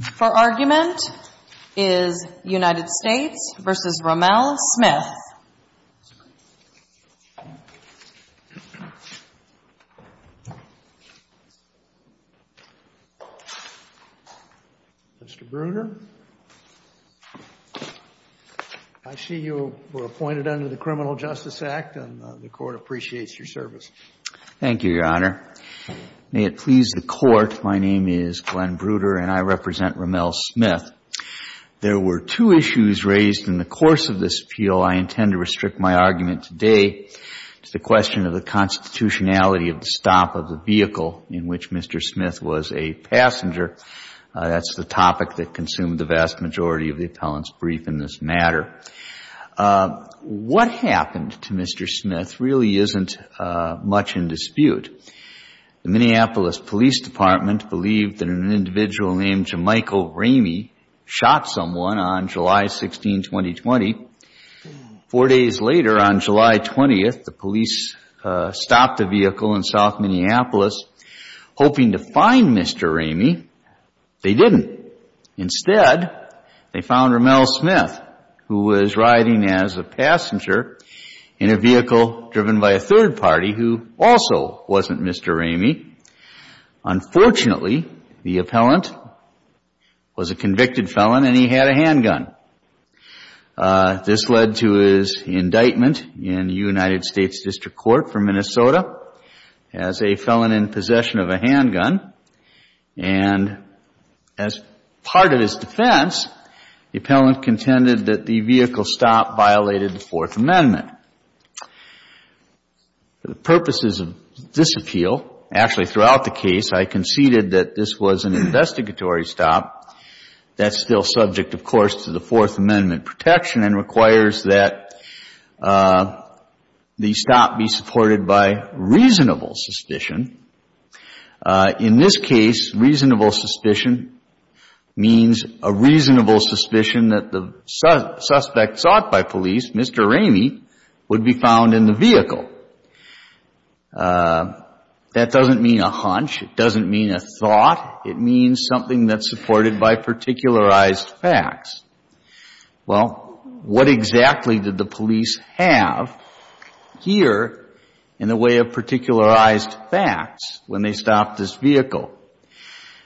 Mr. Bruder, I see you were appointed under the Criminal Justice Act and the Court appreciates your service. May it please the Court, my name is Glenn Bruder and I represent Romelle Smith. There were two issues raised in the course of this appeal. I intend to restrict my argument today to the question of the constitutionality of the stop of the vehicle in which Mr. Smith was a passenger. That's the topic that consumed the vast majority of the appellant's brief in this matter. What happened to Mr. Smith really isn't much in dispute. The Minneapolis Police Department believed that an individual named Jemichael Ramey shot someone on July 16, 2020. Four days later, on July 20th, the police stopped a vehicle in South Minneapolis hoping to find Mr. Ramey. They didn't. Instead, they found Romelle Smith, who was riding as a passenger in a car that wasn't Mr. Ramey. Unfortunately, the appellant was a convicted felon and he had a handgun. This led to his indictment in the United States District Court for Minnesota as a felon in possession of a handgun. And as part of his defense, the appellant contended that the vehicle stop violated the Fourth Amendment. For the purposes of this appeal, actually throughout the case, I conceded that this was an investigatory stop that's still subject, of course, to the Fourth Amendment protection and requires that the stop be supported by reasonable suspicion. In this case, reasonable suspicion means a reasonable suspicion that the suspect sought by police, Mr. Ramey, would be found in the vehicle. That doesn't mean a hunch, it doesn't mean a thought, it means something that's supported by particularized facts. Well, what exactly did the police have here in the way of particularized facts when they stopped this vehicle?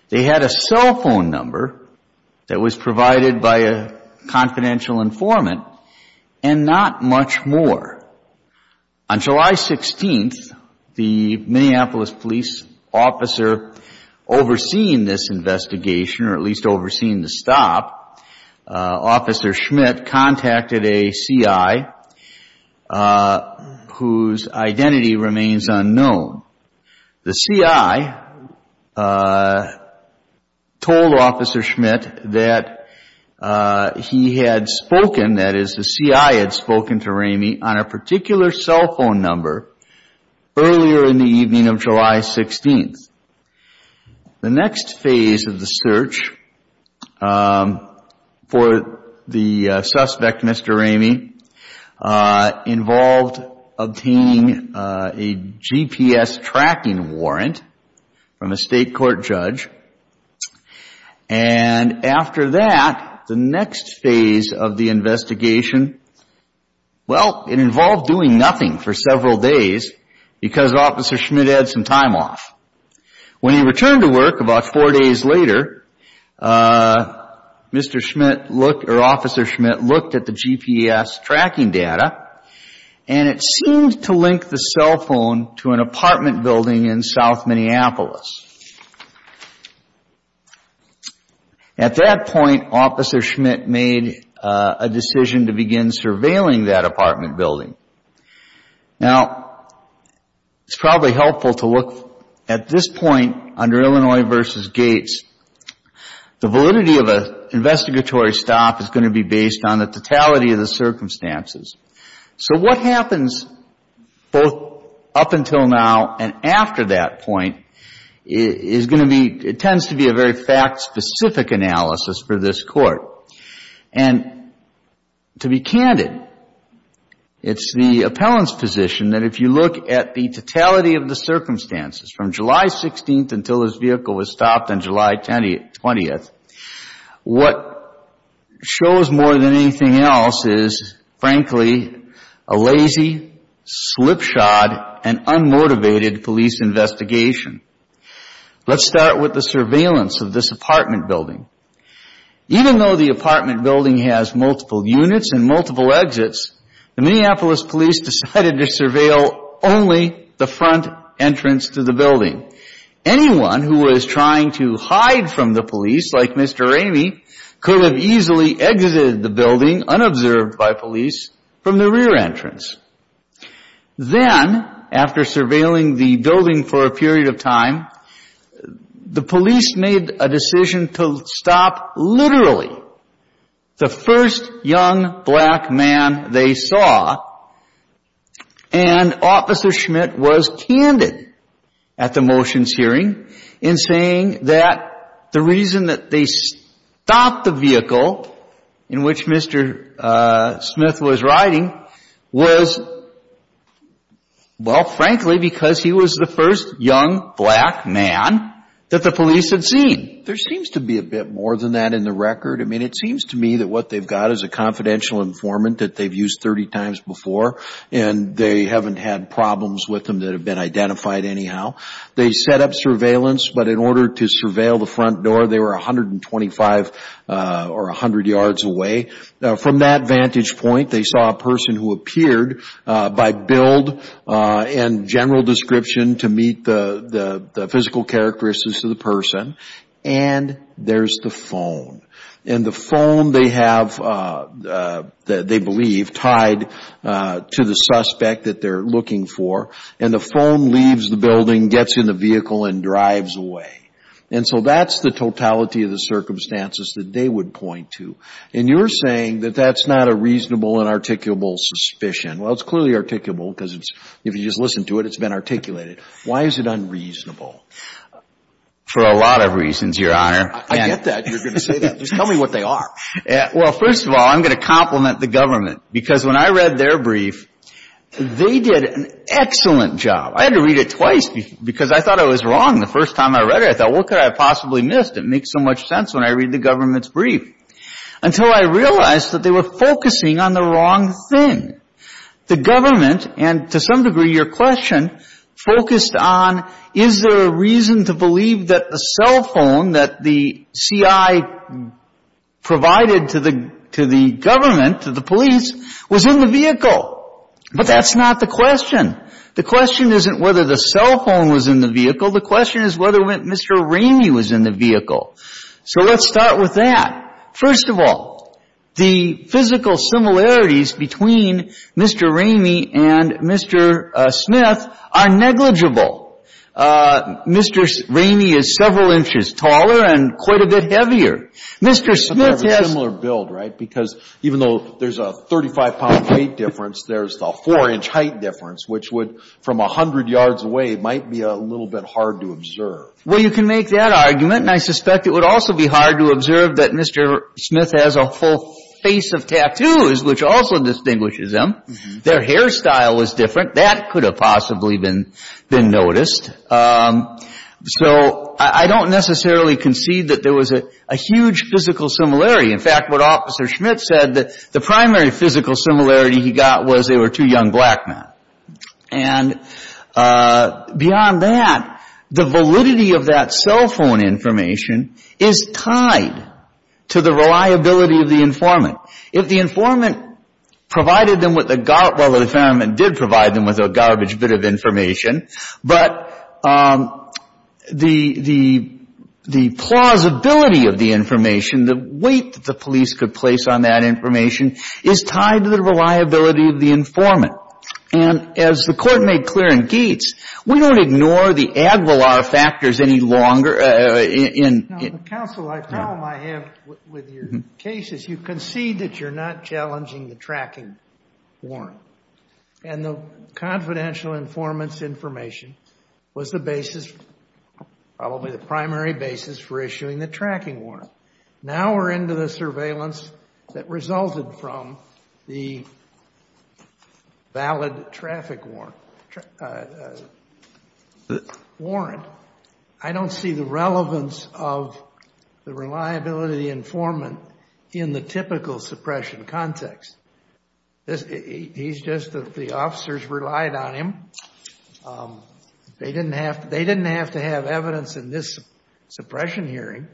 They had a cell phone number that was provided by a confidential informant and not much more. On July 16th, the Minneapolis police officer overseeing this investigation, or at least overseeing the stop, Officer Schmidt contacted a C.I. whose identity remains unknown. The C.I. told Officer Schmidt that he had spoken, that is, the C.I. had spoken to Ramey on a particular cell phone number earlier in the evening of July 16th. The next phase of the search for the suspect, Mr. Ramey, involved obtaining a GPS tracking warrant from a state court judge. And after that, the next phase of the investigation, well, it involved doing nothing for several days because Officer Schmidt had some time off. When he returned to work about four days later, Officer Schmidt looked at the GPS tracking data and it seemed to link the cell phone to an apartment building in south Minneapolis. At that point, Officer Schmidt made a decision to begin surveilling that apartment building. Now, it's probably helpful to look at this point under Illinois v. Gates. The validity of an investigatory stop is going to be based on the totality of the circumstances. So what happens both up until now and after that point is going to be, it tends to be a fact-specific analysis for this court. And to be candid, it's the appellant's position that if you look at the totality of the circumstances from July 16th until his vehicle was stopped on July 20th, what shows more than anything else is, frankly, a lazy, slipshod, and unmotivated police investigation. Let's start with the surveillance of this apartment building. Even though the apartment building has multiple units and multiple exits, the Minneapolis police decided to surveil only the front entrance to the building. Anyone who was trying to hide from the police, like Mr. Ramey, could have easily exited the building, unobserved by police, from the rear entrance. Then, after surveilling the building for a period of time, the police made a decision to stop literally the first young black man they saw. And Officer Schmidt was candid at the motions hearing in saying that the reason that they stopped the vehicle in which Mr. Smith was riding was, well, frankly, because he was the first young black man that the police had seen. There seems to be a bit more than that in the record. I mean, it seems to me that what they've got is a confidential informant that they've used 30 times before, and they haven't had problems with them that have been identified anyhow. They set up surveillance, but in order to surveil the front door, they were 125 or 100 yards away. From that vantage point, they saw a person who appeared by build and general description to meet the physical characteristics of the person, and there's the phone. And the phone they have, they believe, tied to the suspect that they're looking for. And the phone leaves the building, gets in the vehicle, and drives away. And so that's the totality of the circumstances that they would point to. And you're saying that that's not a reasonable and articulable suspicion. Well, it's clearly articulable because if you just listen to it, it's been articulated. Why is it unreasonable? For a lot of reasons, Your Honor. I get that. You're going to say that. Just tell me what they are. Well, first of all, I'm going to compliment the government because when I read their brief, they did an excellent job. I had to read it twice because I thought I was wrong the first time I read it. I thought, what could I have possibly missed? It makes so much sense when I read the government's brief. Until I realized that they were focusing on the wrong thing. The government, and to some degree your question, focused on is there a reason to believe that the cell phone that the CI provided to the government, to the police, was in the vehicle? But that's not the question. The question isn't whether the cell phone was in the vehicle. The question is whether Mr. Ramey was in the vehicle. So let's start with that. First of all, the physical similarities between Mr. Ramey and Mr. Smith are negligible. Mr. Ramey is several inches taller and quite a bit heavier. Mr. Smith has a similar build, right? Even though there's a 35-pound weight difference, there's the four-inch height difference, which would, from 100 yards away, might be a little bit hard to observe. Well, you can make that argument, and I suspect it would also be hard to observe that Mr. Smith has a full face of tattoos, which also distinguishes them. Their hairstyle was different. That could have possibly been noticed. So I don't necessarily concede that there was a huge physical similarity. In fact, what Officer Smith said, the primary physical similarity he got was they were two young black men. And beyond that, the validity of that cell phone information is tied to the reliability of the informant. If the informant provided them with a garbage bit of information, but the plausibility of the information, the weight that the police could place on that information is tied to the reliability of the informant. And as the Court made clear in Gates, we don't ignore the ad valar factors any longer. Now, counsel, the problem I have with your case is you concede that you're not challenging the tracking warrant. And the confidential informant's information was the basis, probably the primary basis for issuing the tracking warrant. Now we're into the surveillance that resulted from the valid traffic warrant. I don't see the relevance of the reliability informant in the typical suppression context. He's just that the officers relied on him. They didn't have to have evidence in this suppression hearing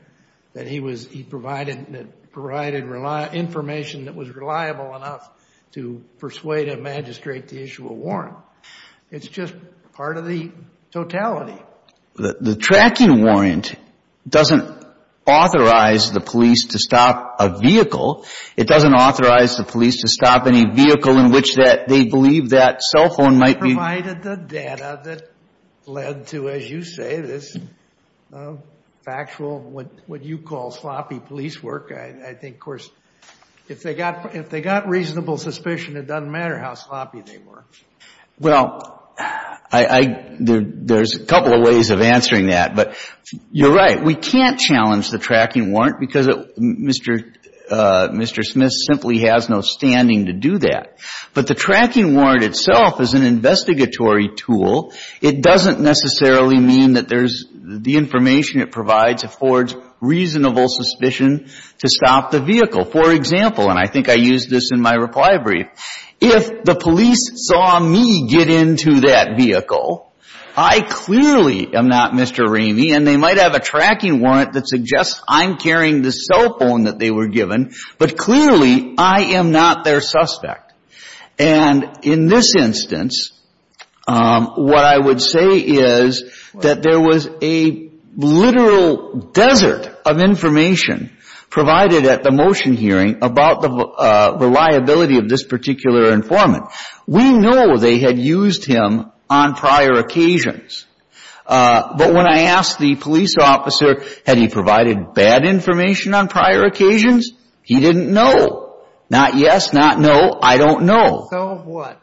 that he provided information that was reliable enough to persuade a magistrate to issue a warrant. It's just part of the totality. The tracking warrant doesn't authorize the police to stop a vehicle. It doesn't authorize the police to stop any vehicle in which they believe that cell phone provided the data that led to, as you say, this factual what you call sloppy police work. I think, of course, if they got reasonable suspicion, it doesn't matter how sloppy they were. Well, there's a couple of ways of answering that. But you're right. We can't challenge the tracking warrant because Mr. Smith simply has no standing to do that. But the tracking warrant itself is an investigatory tool. It doesn't necessarily mean that there's the information it provides affords reasonable suspicion to stop the vehicle. For example, and I think I used this in my reply brief, if the police saw me get into that vehicle, I clearly am not Mr. Ramey. And they might have a tracking warrant that suggests I'm carrying the cell phone that they were given, but clearly I am not their suspect. And in this instance, what I would say is that there was a literal desert of information provided at the motion hearing about the reliability of this particular informant. We know they had used him on prior occasions. But when I asked the police officer had he provided bad information on prior occasions, he didn't know. Not yes, not no. I don't know. So what?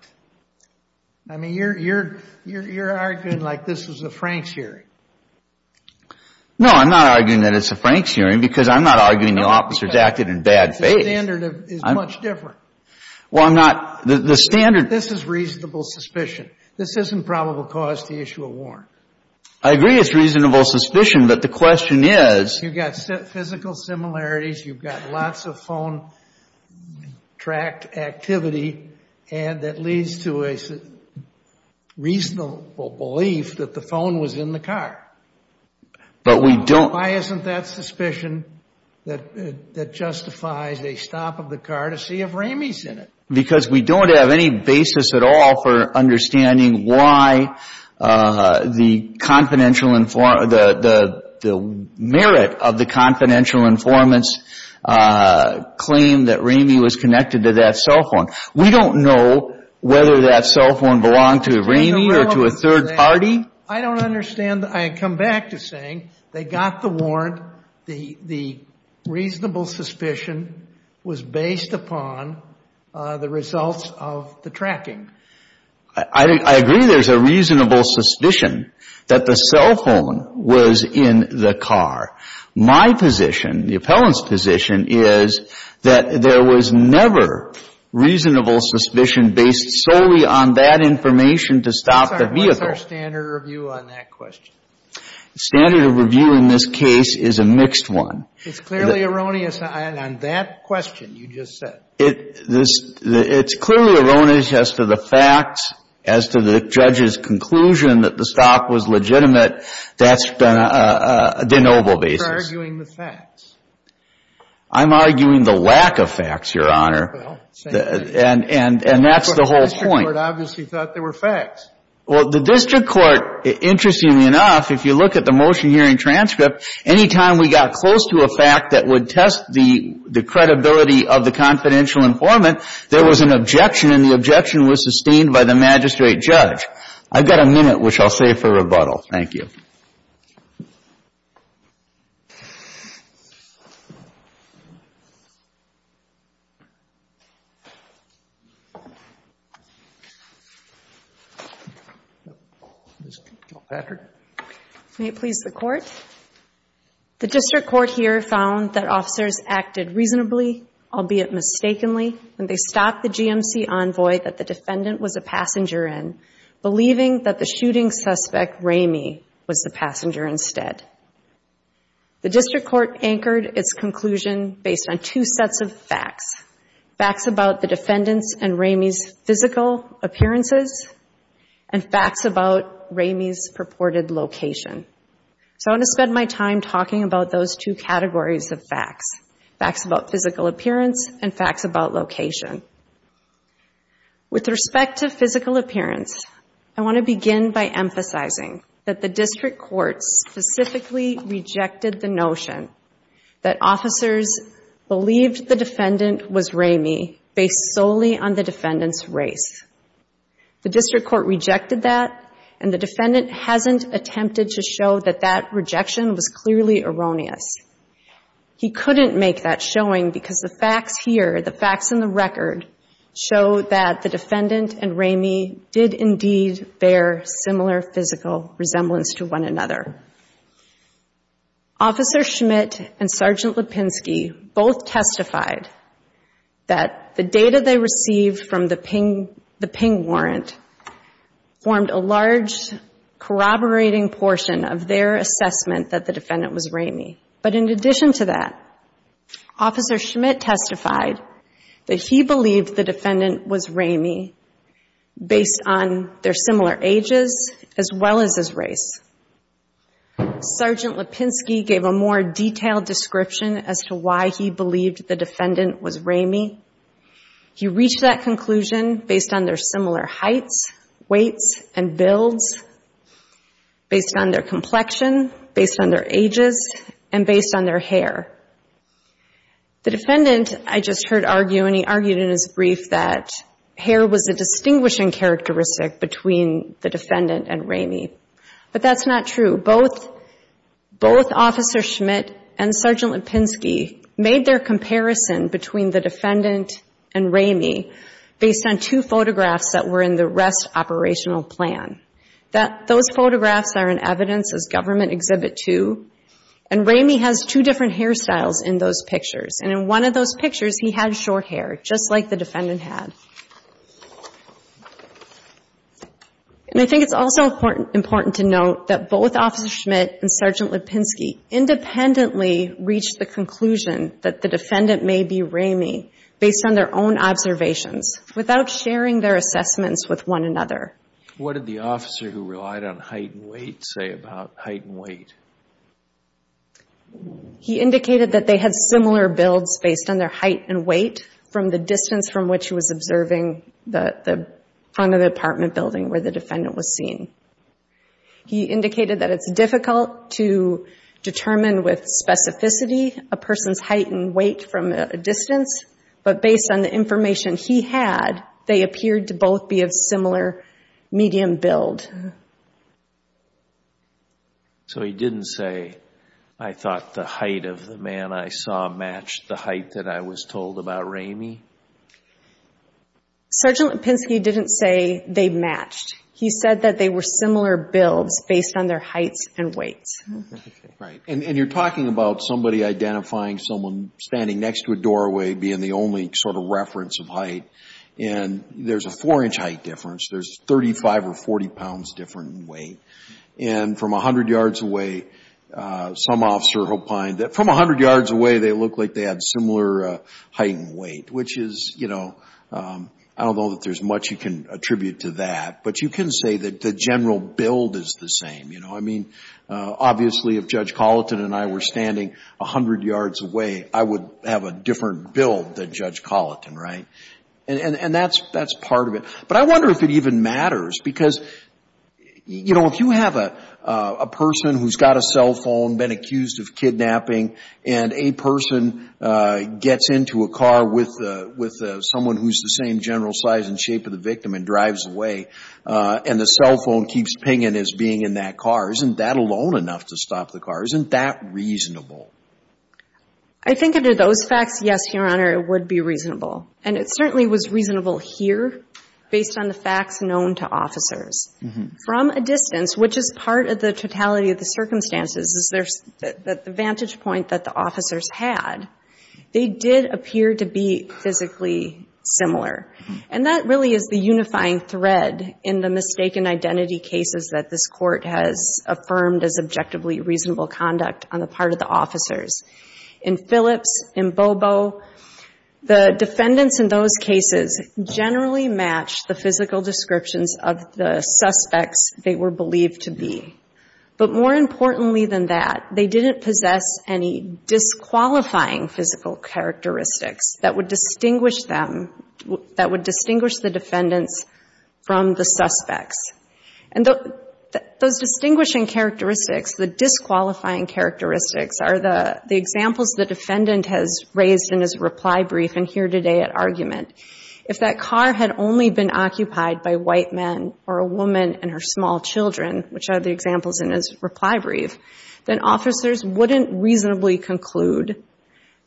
I mean, you're arguing like this was a Frank's hearing. No, I'm not arguing that it's a Frank's hearing because I'm not arguing the officers acted in bad faith. The standard is much different. Well, I'm not. The standard. This is reasonable suspicion. This isn't probable cause to issue a warrant. I agree it's reasonable suspicion, but the question is. You've got physical similarities. You've got lots of phone track activity and that leads to a reasonable belief that the phone was in the car. But we don't. Why isn't that suspicion that justifies a stop of the car to see if Ramey's in it? Because we don't have any basis at all for understanding why the confidential informant, the merit of the confidential informant's claim that Ramey was connected to that cell phone. We don't know whether that cell phone belonged to Ramey or to a third party. I don't understand. I come back to saying they got the warrant. The reasonable suspicion was based upon the results of the tracking. I agree there's a reasonable suspicion that the cell phone was in the car. My position, the appellant's position, is that there was never reasonable suspicion based solely on that information to stop the vehicle. What's our standard review on that question? Standard review in this case is a mixed one. It's clearly erroneous on that question you just said. It's clearly erroneous as to the facts, as to the judge's conclusion that the stop was legitimate. That's been a de noble basis. You're arguing the facts. I'm arguing the lack of facts, Your Honor. Well, same thing. And that's the whole point. But the district court obviously thought there were facts. Well, the district court, interestingly enough, if you look at the motion here in transcript, any time we got close to a fact that would test the credibility of the confidential informant, there was an objection. And the objection was sustained by the magistrate judge. I've got a minute, which I'll save for rebuttal. Thank you. Ms. Kilpatrick. May it please the Court. The district court here found that officers acted reasonably, albeit mistakenly, when they stopped the GMC envoy that the defendant was a passenger in, believing that the shooting suspect, Ramey, was the passenger instead. The district court anchored its conclusion based on two sets of facts. Facts about the defendant's and Ramey's physical appearances, and facts about Ramey's purported location. So I want to spend my time talking about those two categories of facts. Facts about physical appearance, and facts about location. With respect to physical appearance, I want to begin by emphasizing that the district court specifically rejected the notion that officers believed the defendant was Ramey, based solely on the defendant's race. The district court rejected that, and the defendant hasn't attempted to show that that rejection was clearly erroneous. He couldn't make that showing because the facts here, the facts in the record, show that the defendant and Ramey did indeed bear similar physical resemblance to one another. Officer Schmidt and Sergeant Lipinski both testified that the data they received from the ping warrant formed a large corroborating portion of their assessment that the defendant was Ramey. But in addition to that, Officer Schmidt testified that he believed the defendant was Ramey based on their similar ages as well as his race. Sergeant Lipinski gave a more detailed description as to why he believed the defendant was Ramey. He reached that conclusion based on their similar heights, weights, and builds, based on their complexion, based on their ages, and based on their hair. The defendant, I just heard argue, and he argued in his brief that hair was a distinguishing characteristic between the defendant and Ramey. But that's not true. Both Officer Schmidt and Sergeant Lipinski made their comparison between the defendant and Ramey based on two photographs that were in the rest operational plan. Those photographs are in evidence as Government Exhibit 2, and Ramey has two different hairstyles in those pictures. And in one of those pictures, he had short hair, just like the defendant had. And I think it's also important to note that both Officer Schmidt and Sergeant Ramey based on their own observations without sharing their assessments with one another. He indicated that they had similar builds based on their height and weight from the distance from which he was observing the front of the apartment building where the defendant was seen. He indicated that it's difficult to determine with specificity a person's height and weight from a distance, but based on the information he had, they appeared to both be of similar medium build. So he didn't say, I thought the height of the man I saw matched the height that I was told about Ramey? Sergeant Lipinski didn't say they matched. He said that they were similar builds based on their heights and weights. Right. And you're talking about somebody identifying someone standing next to a doorway being the only sort of reference of height, and there's a four-inch height difference. There's 35 or 40 pounds difference in weight. And from 100 yards away, some officer opined that from 100 yards away, they looked like they had similar height and weight, which is, you know, I don't know that there's much you can attribute to that, but you can say that the general build is the same, you know? Obviously, if Judge Colleton and I were standing 100 yards away, I would have a different build than Judge Colleton, right? And that's part of it. But I wonder if it even matters, because, you know, if you have a person who's got a cell phone, been accused of kidnapping, and a person gets into a car with someone who's the same general size and shape of the victim and drives away, and the cell phone keeps pinging as being in that car, isn't that alone enough to stop the car? Isn't that reasonable? I think under those facts, yes, Your Honor, it would be reasonable. And it certainly was reasonable here based on the facts known to officers. From a distance, which is part of the totality of the circumstances, is the vantage point that the officers had, they did appear to be physically similar. And that really is the unifying thread in the mistaken identity cases that this court has affirmed as objectively reasonable conduct on the part of the officers. In Phillips, in Bobo, the defendants in those cases generally matched the physical descriptions of the suspects they were believed to be. But more importantly than that, they didn't possess any disqualifying physical characteristics that would distinguish them, that would distinguish the defendants from the suspects. And those distinguishing characteristics, the disqualifying characteristics are the examples the defendant has raised in his reply brief and here today at argument. If that car had only been occupied by white men or a woman and her small children, which are the examples in his reply brief, then officers wouldn't reasonably conclude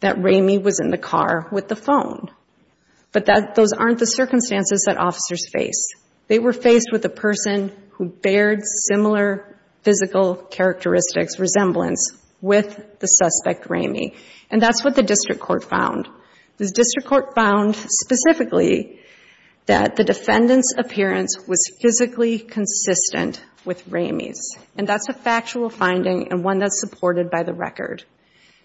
that Ramey was in the car with the phone. But those aren't the circumstances that officers face. They were faced with a person who bared similar physical characteristics, resemblance, with the suspect Ramey. And that's what the district court found. The district court found specifically that the defendant's appearance was physically consistent with Ramey's. And that's a factual finding and one that's supported by the record.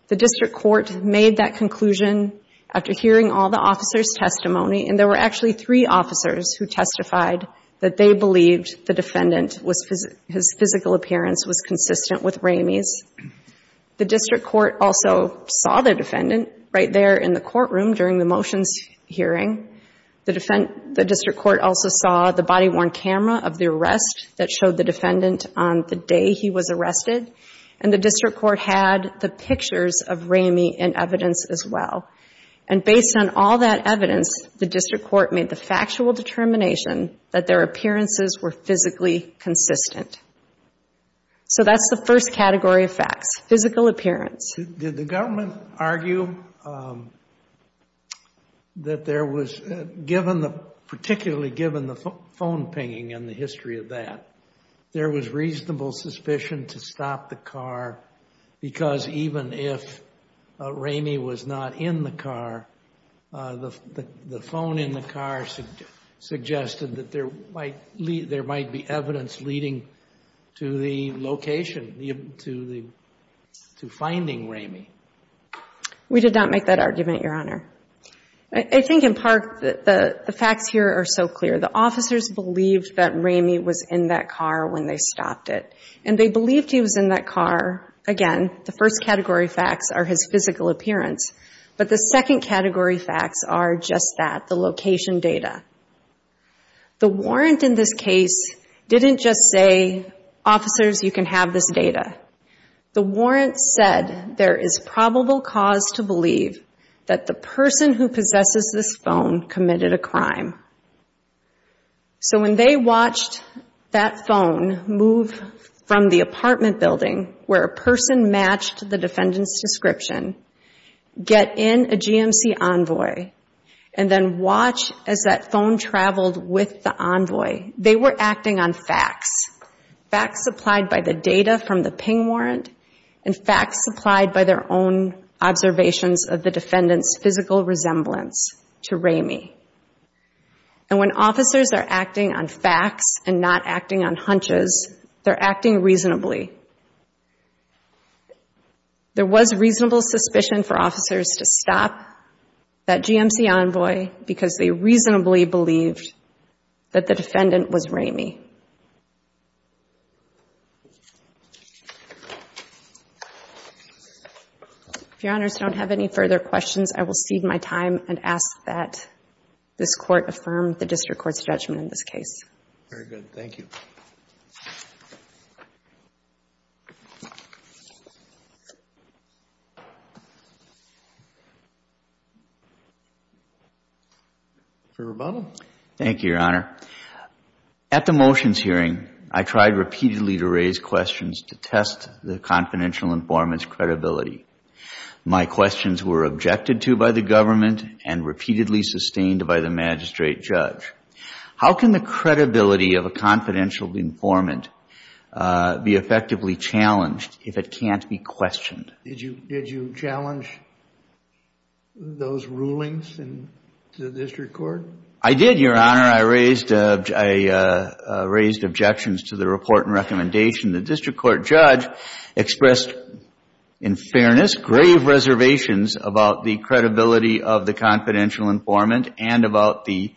The district court made that conclusion after hearing all the officers' testimony. And there were actually three officers who testified that they believed the defendant, his physical appearance was consistent with Ramey's. The district court also saw the defendant right there in the courtroom during the motions hearing. The district court also saw the body-worn camera of the arrest that showed the day he was arrested. And the district court had the pictures of Ramey in evidence as well. And based on all that evidence, the district court made the factual determination that their appearances were physically consistent. So that's the first category of facts, physical appearance. Did the government argue that there was, given the, particularly given the phone pinging and the history of that, there was reasonable suspicion to stop the car because even if Ramey was not in the car, the phone in the car suggested that there might be evidence leading to the location, to finding Ramey? We did not make that argument, Your Honor. I think in part, the facts here are so clear. The officers believed that Ramey was in that car when they stopped it. And they believed he was in that car. Again, the first category facts are his physical appearance. But the second category facts are just that, the location data. The warrant in this case didn't just say, officers, you can have this data. The warrant said there is probable cause to believe that the person who possesses this phone committed a crime. So when they watched that phone move from the apartment building where a person matched the defendant's description, get in a GMC envoy, and then watch as that phone traveled with the envoy, they were acting on facts, facts supplied by the data from the ping warrant and facts supplied by their own observations of the defendant's physical resemblance to Ramey. And when officers are acting on facts and not acting on hunches, they're acting reasonably. There was reasonable suspicion for officers to stop that GMC envoy because they reasonably believed that the defendant was Ramey. If Your Honors don't have any further questions, I will cede my time and ask that this Court affirm the District Court's judgment in this case. Very good. Thank you. Your Honor. Thank you, Your Honor. At the motions hearing, I tried repeatedly to raise questions to test the confidential informant's credibility. My questions were objected to by the government and repeatedly sustained by the magistrate judge. How can the credibility of a confidential informant be effectively challenged if it can't be questioned? Did you challenge those rulings to the District Court? I did, Your Honor. I raised objections to the report and recommendation. The District Court judge expressed, in fairness, grave reservations about the credibility of the confidential informant and about the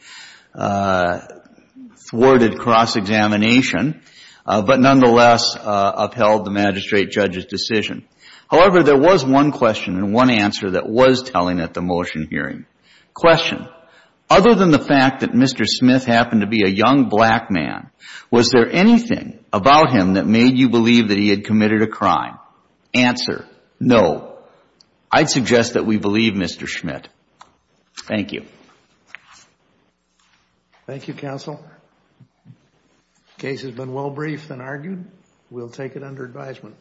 thwarted cross-examination, but nonetheless upheld the magistrate judge's decision. However, there was one question and one answer that was telling at the motion hearing. Question. Other than the fact that Mr. Smith happened to be a young black man, was there anything about him that made you believe that he had committed a crime? Answer. No. I'd suggest that we believe Mr. Smith. Thank you. Thank you, counsel. The case has been well briefed and argued. We'll take it under advisement.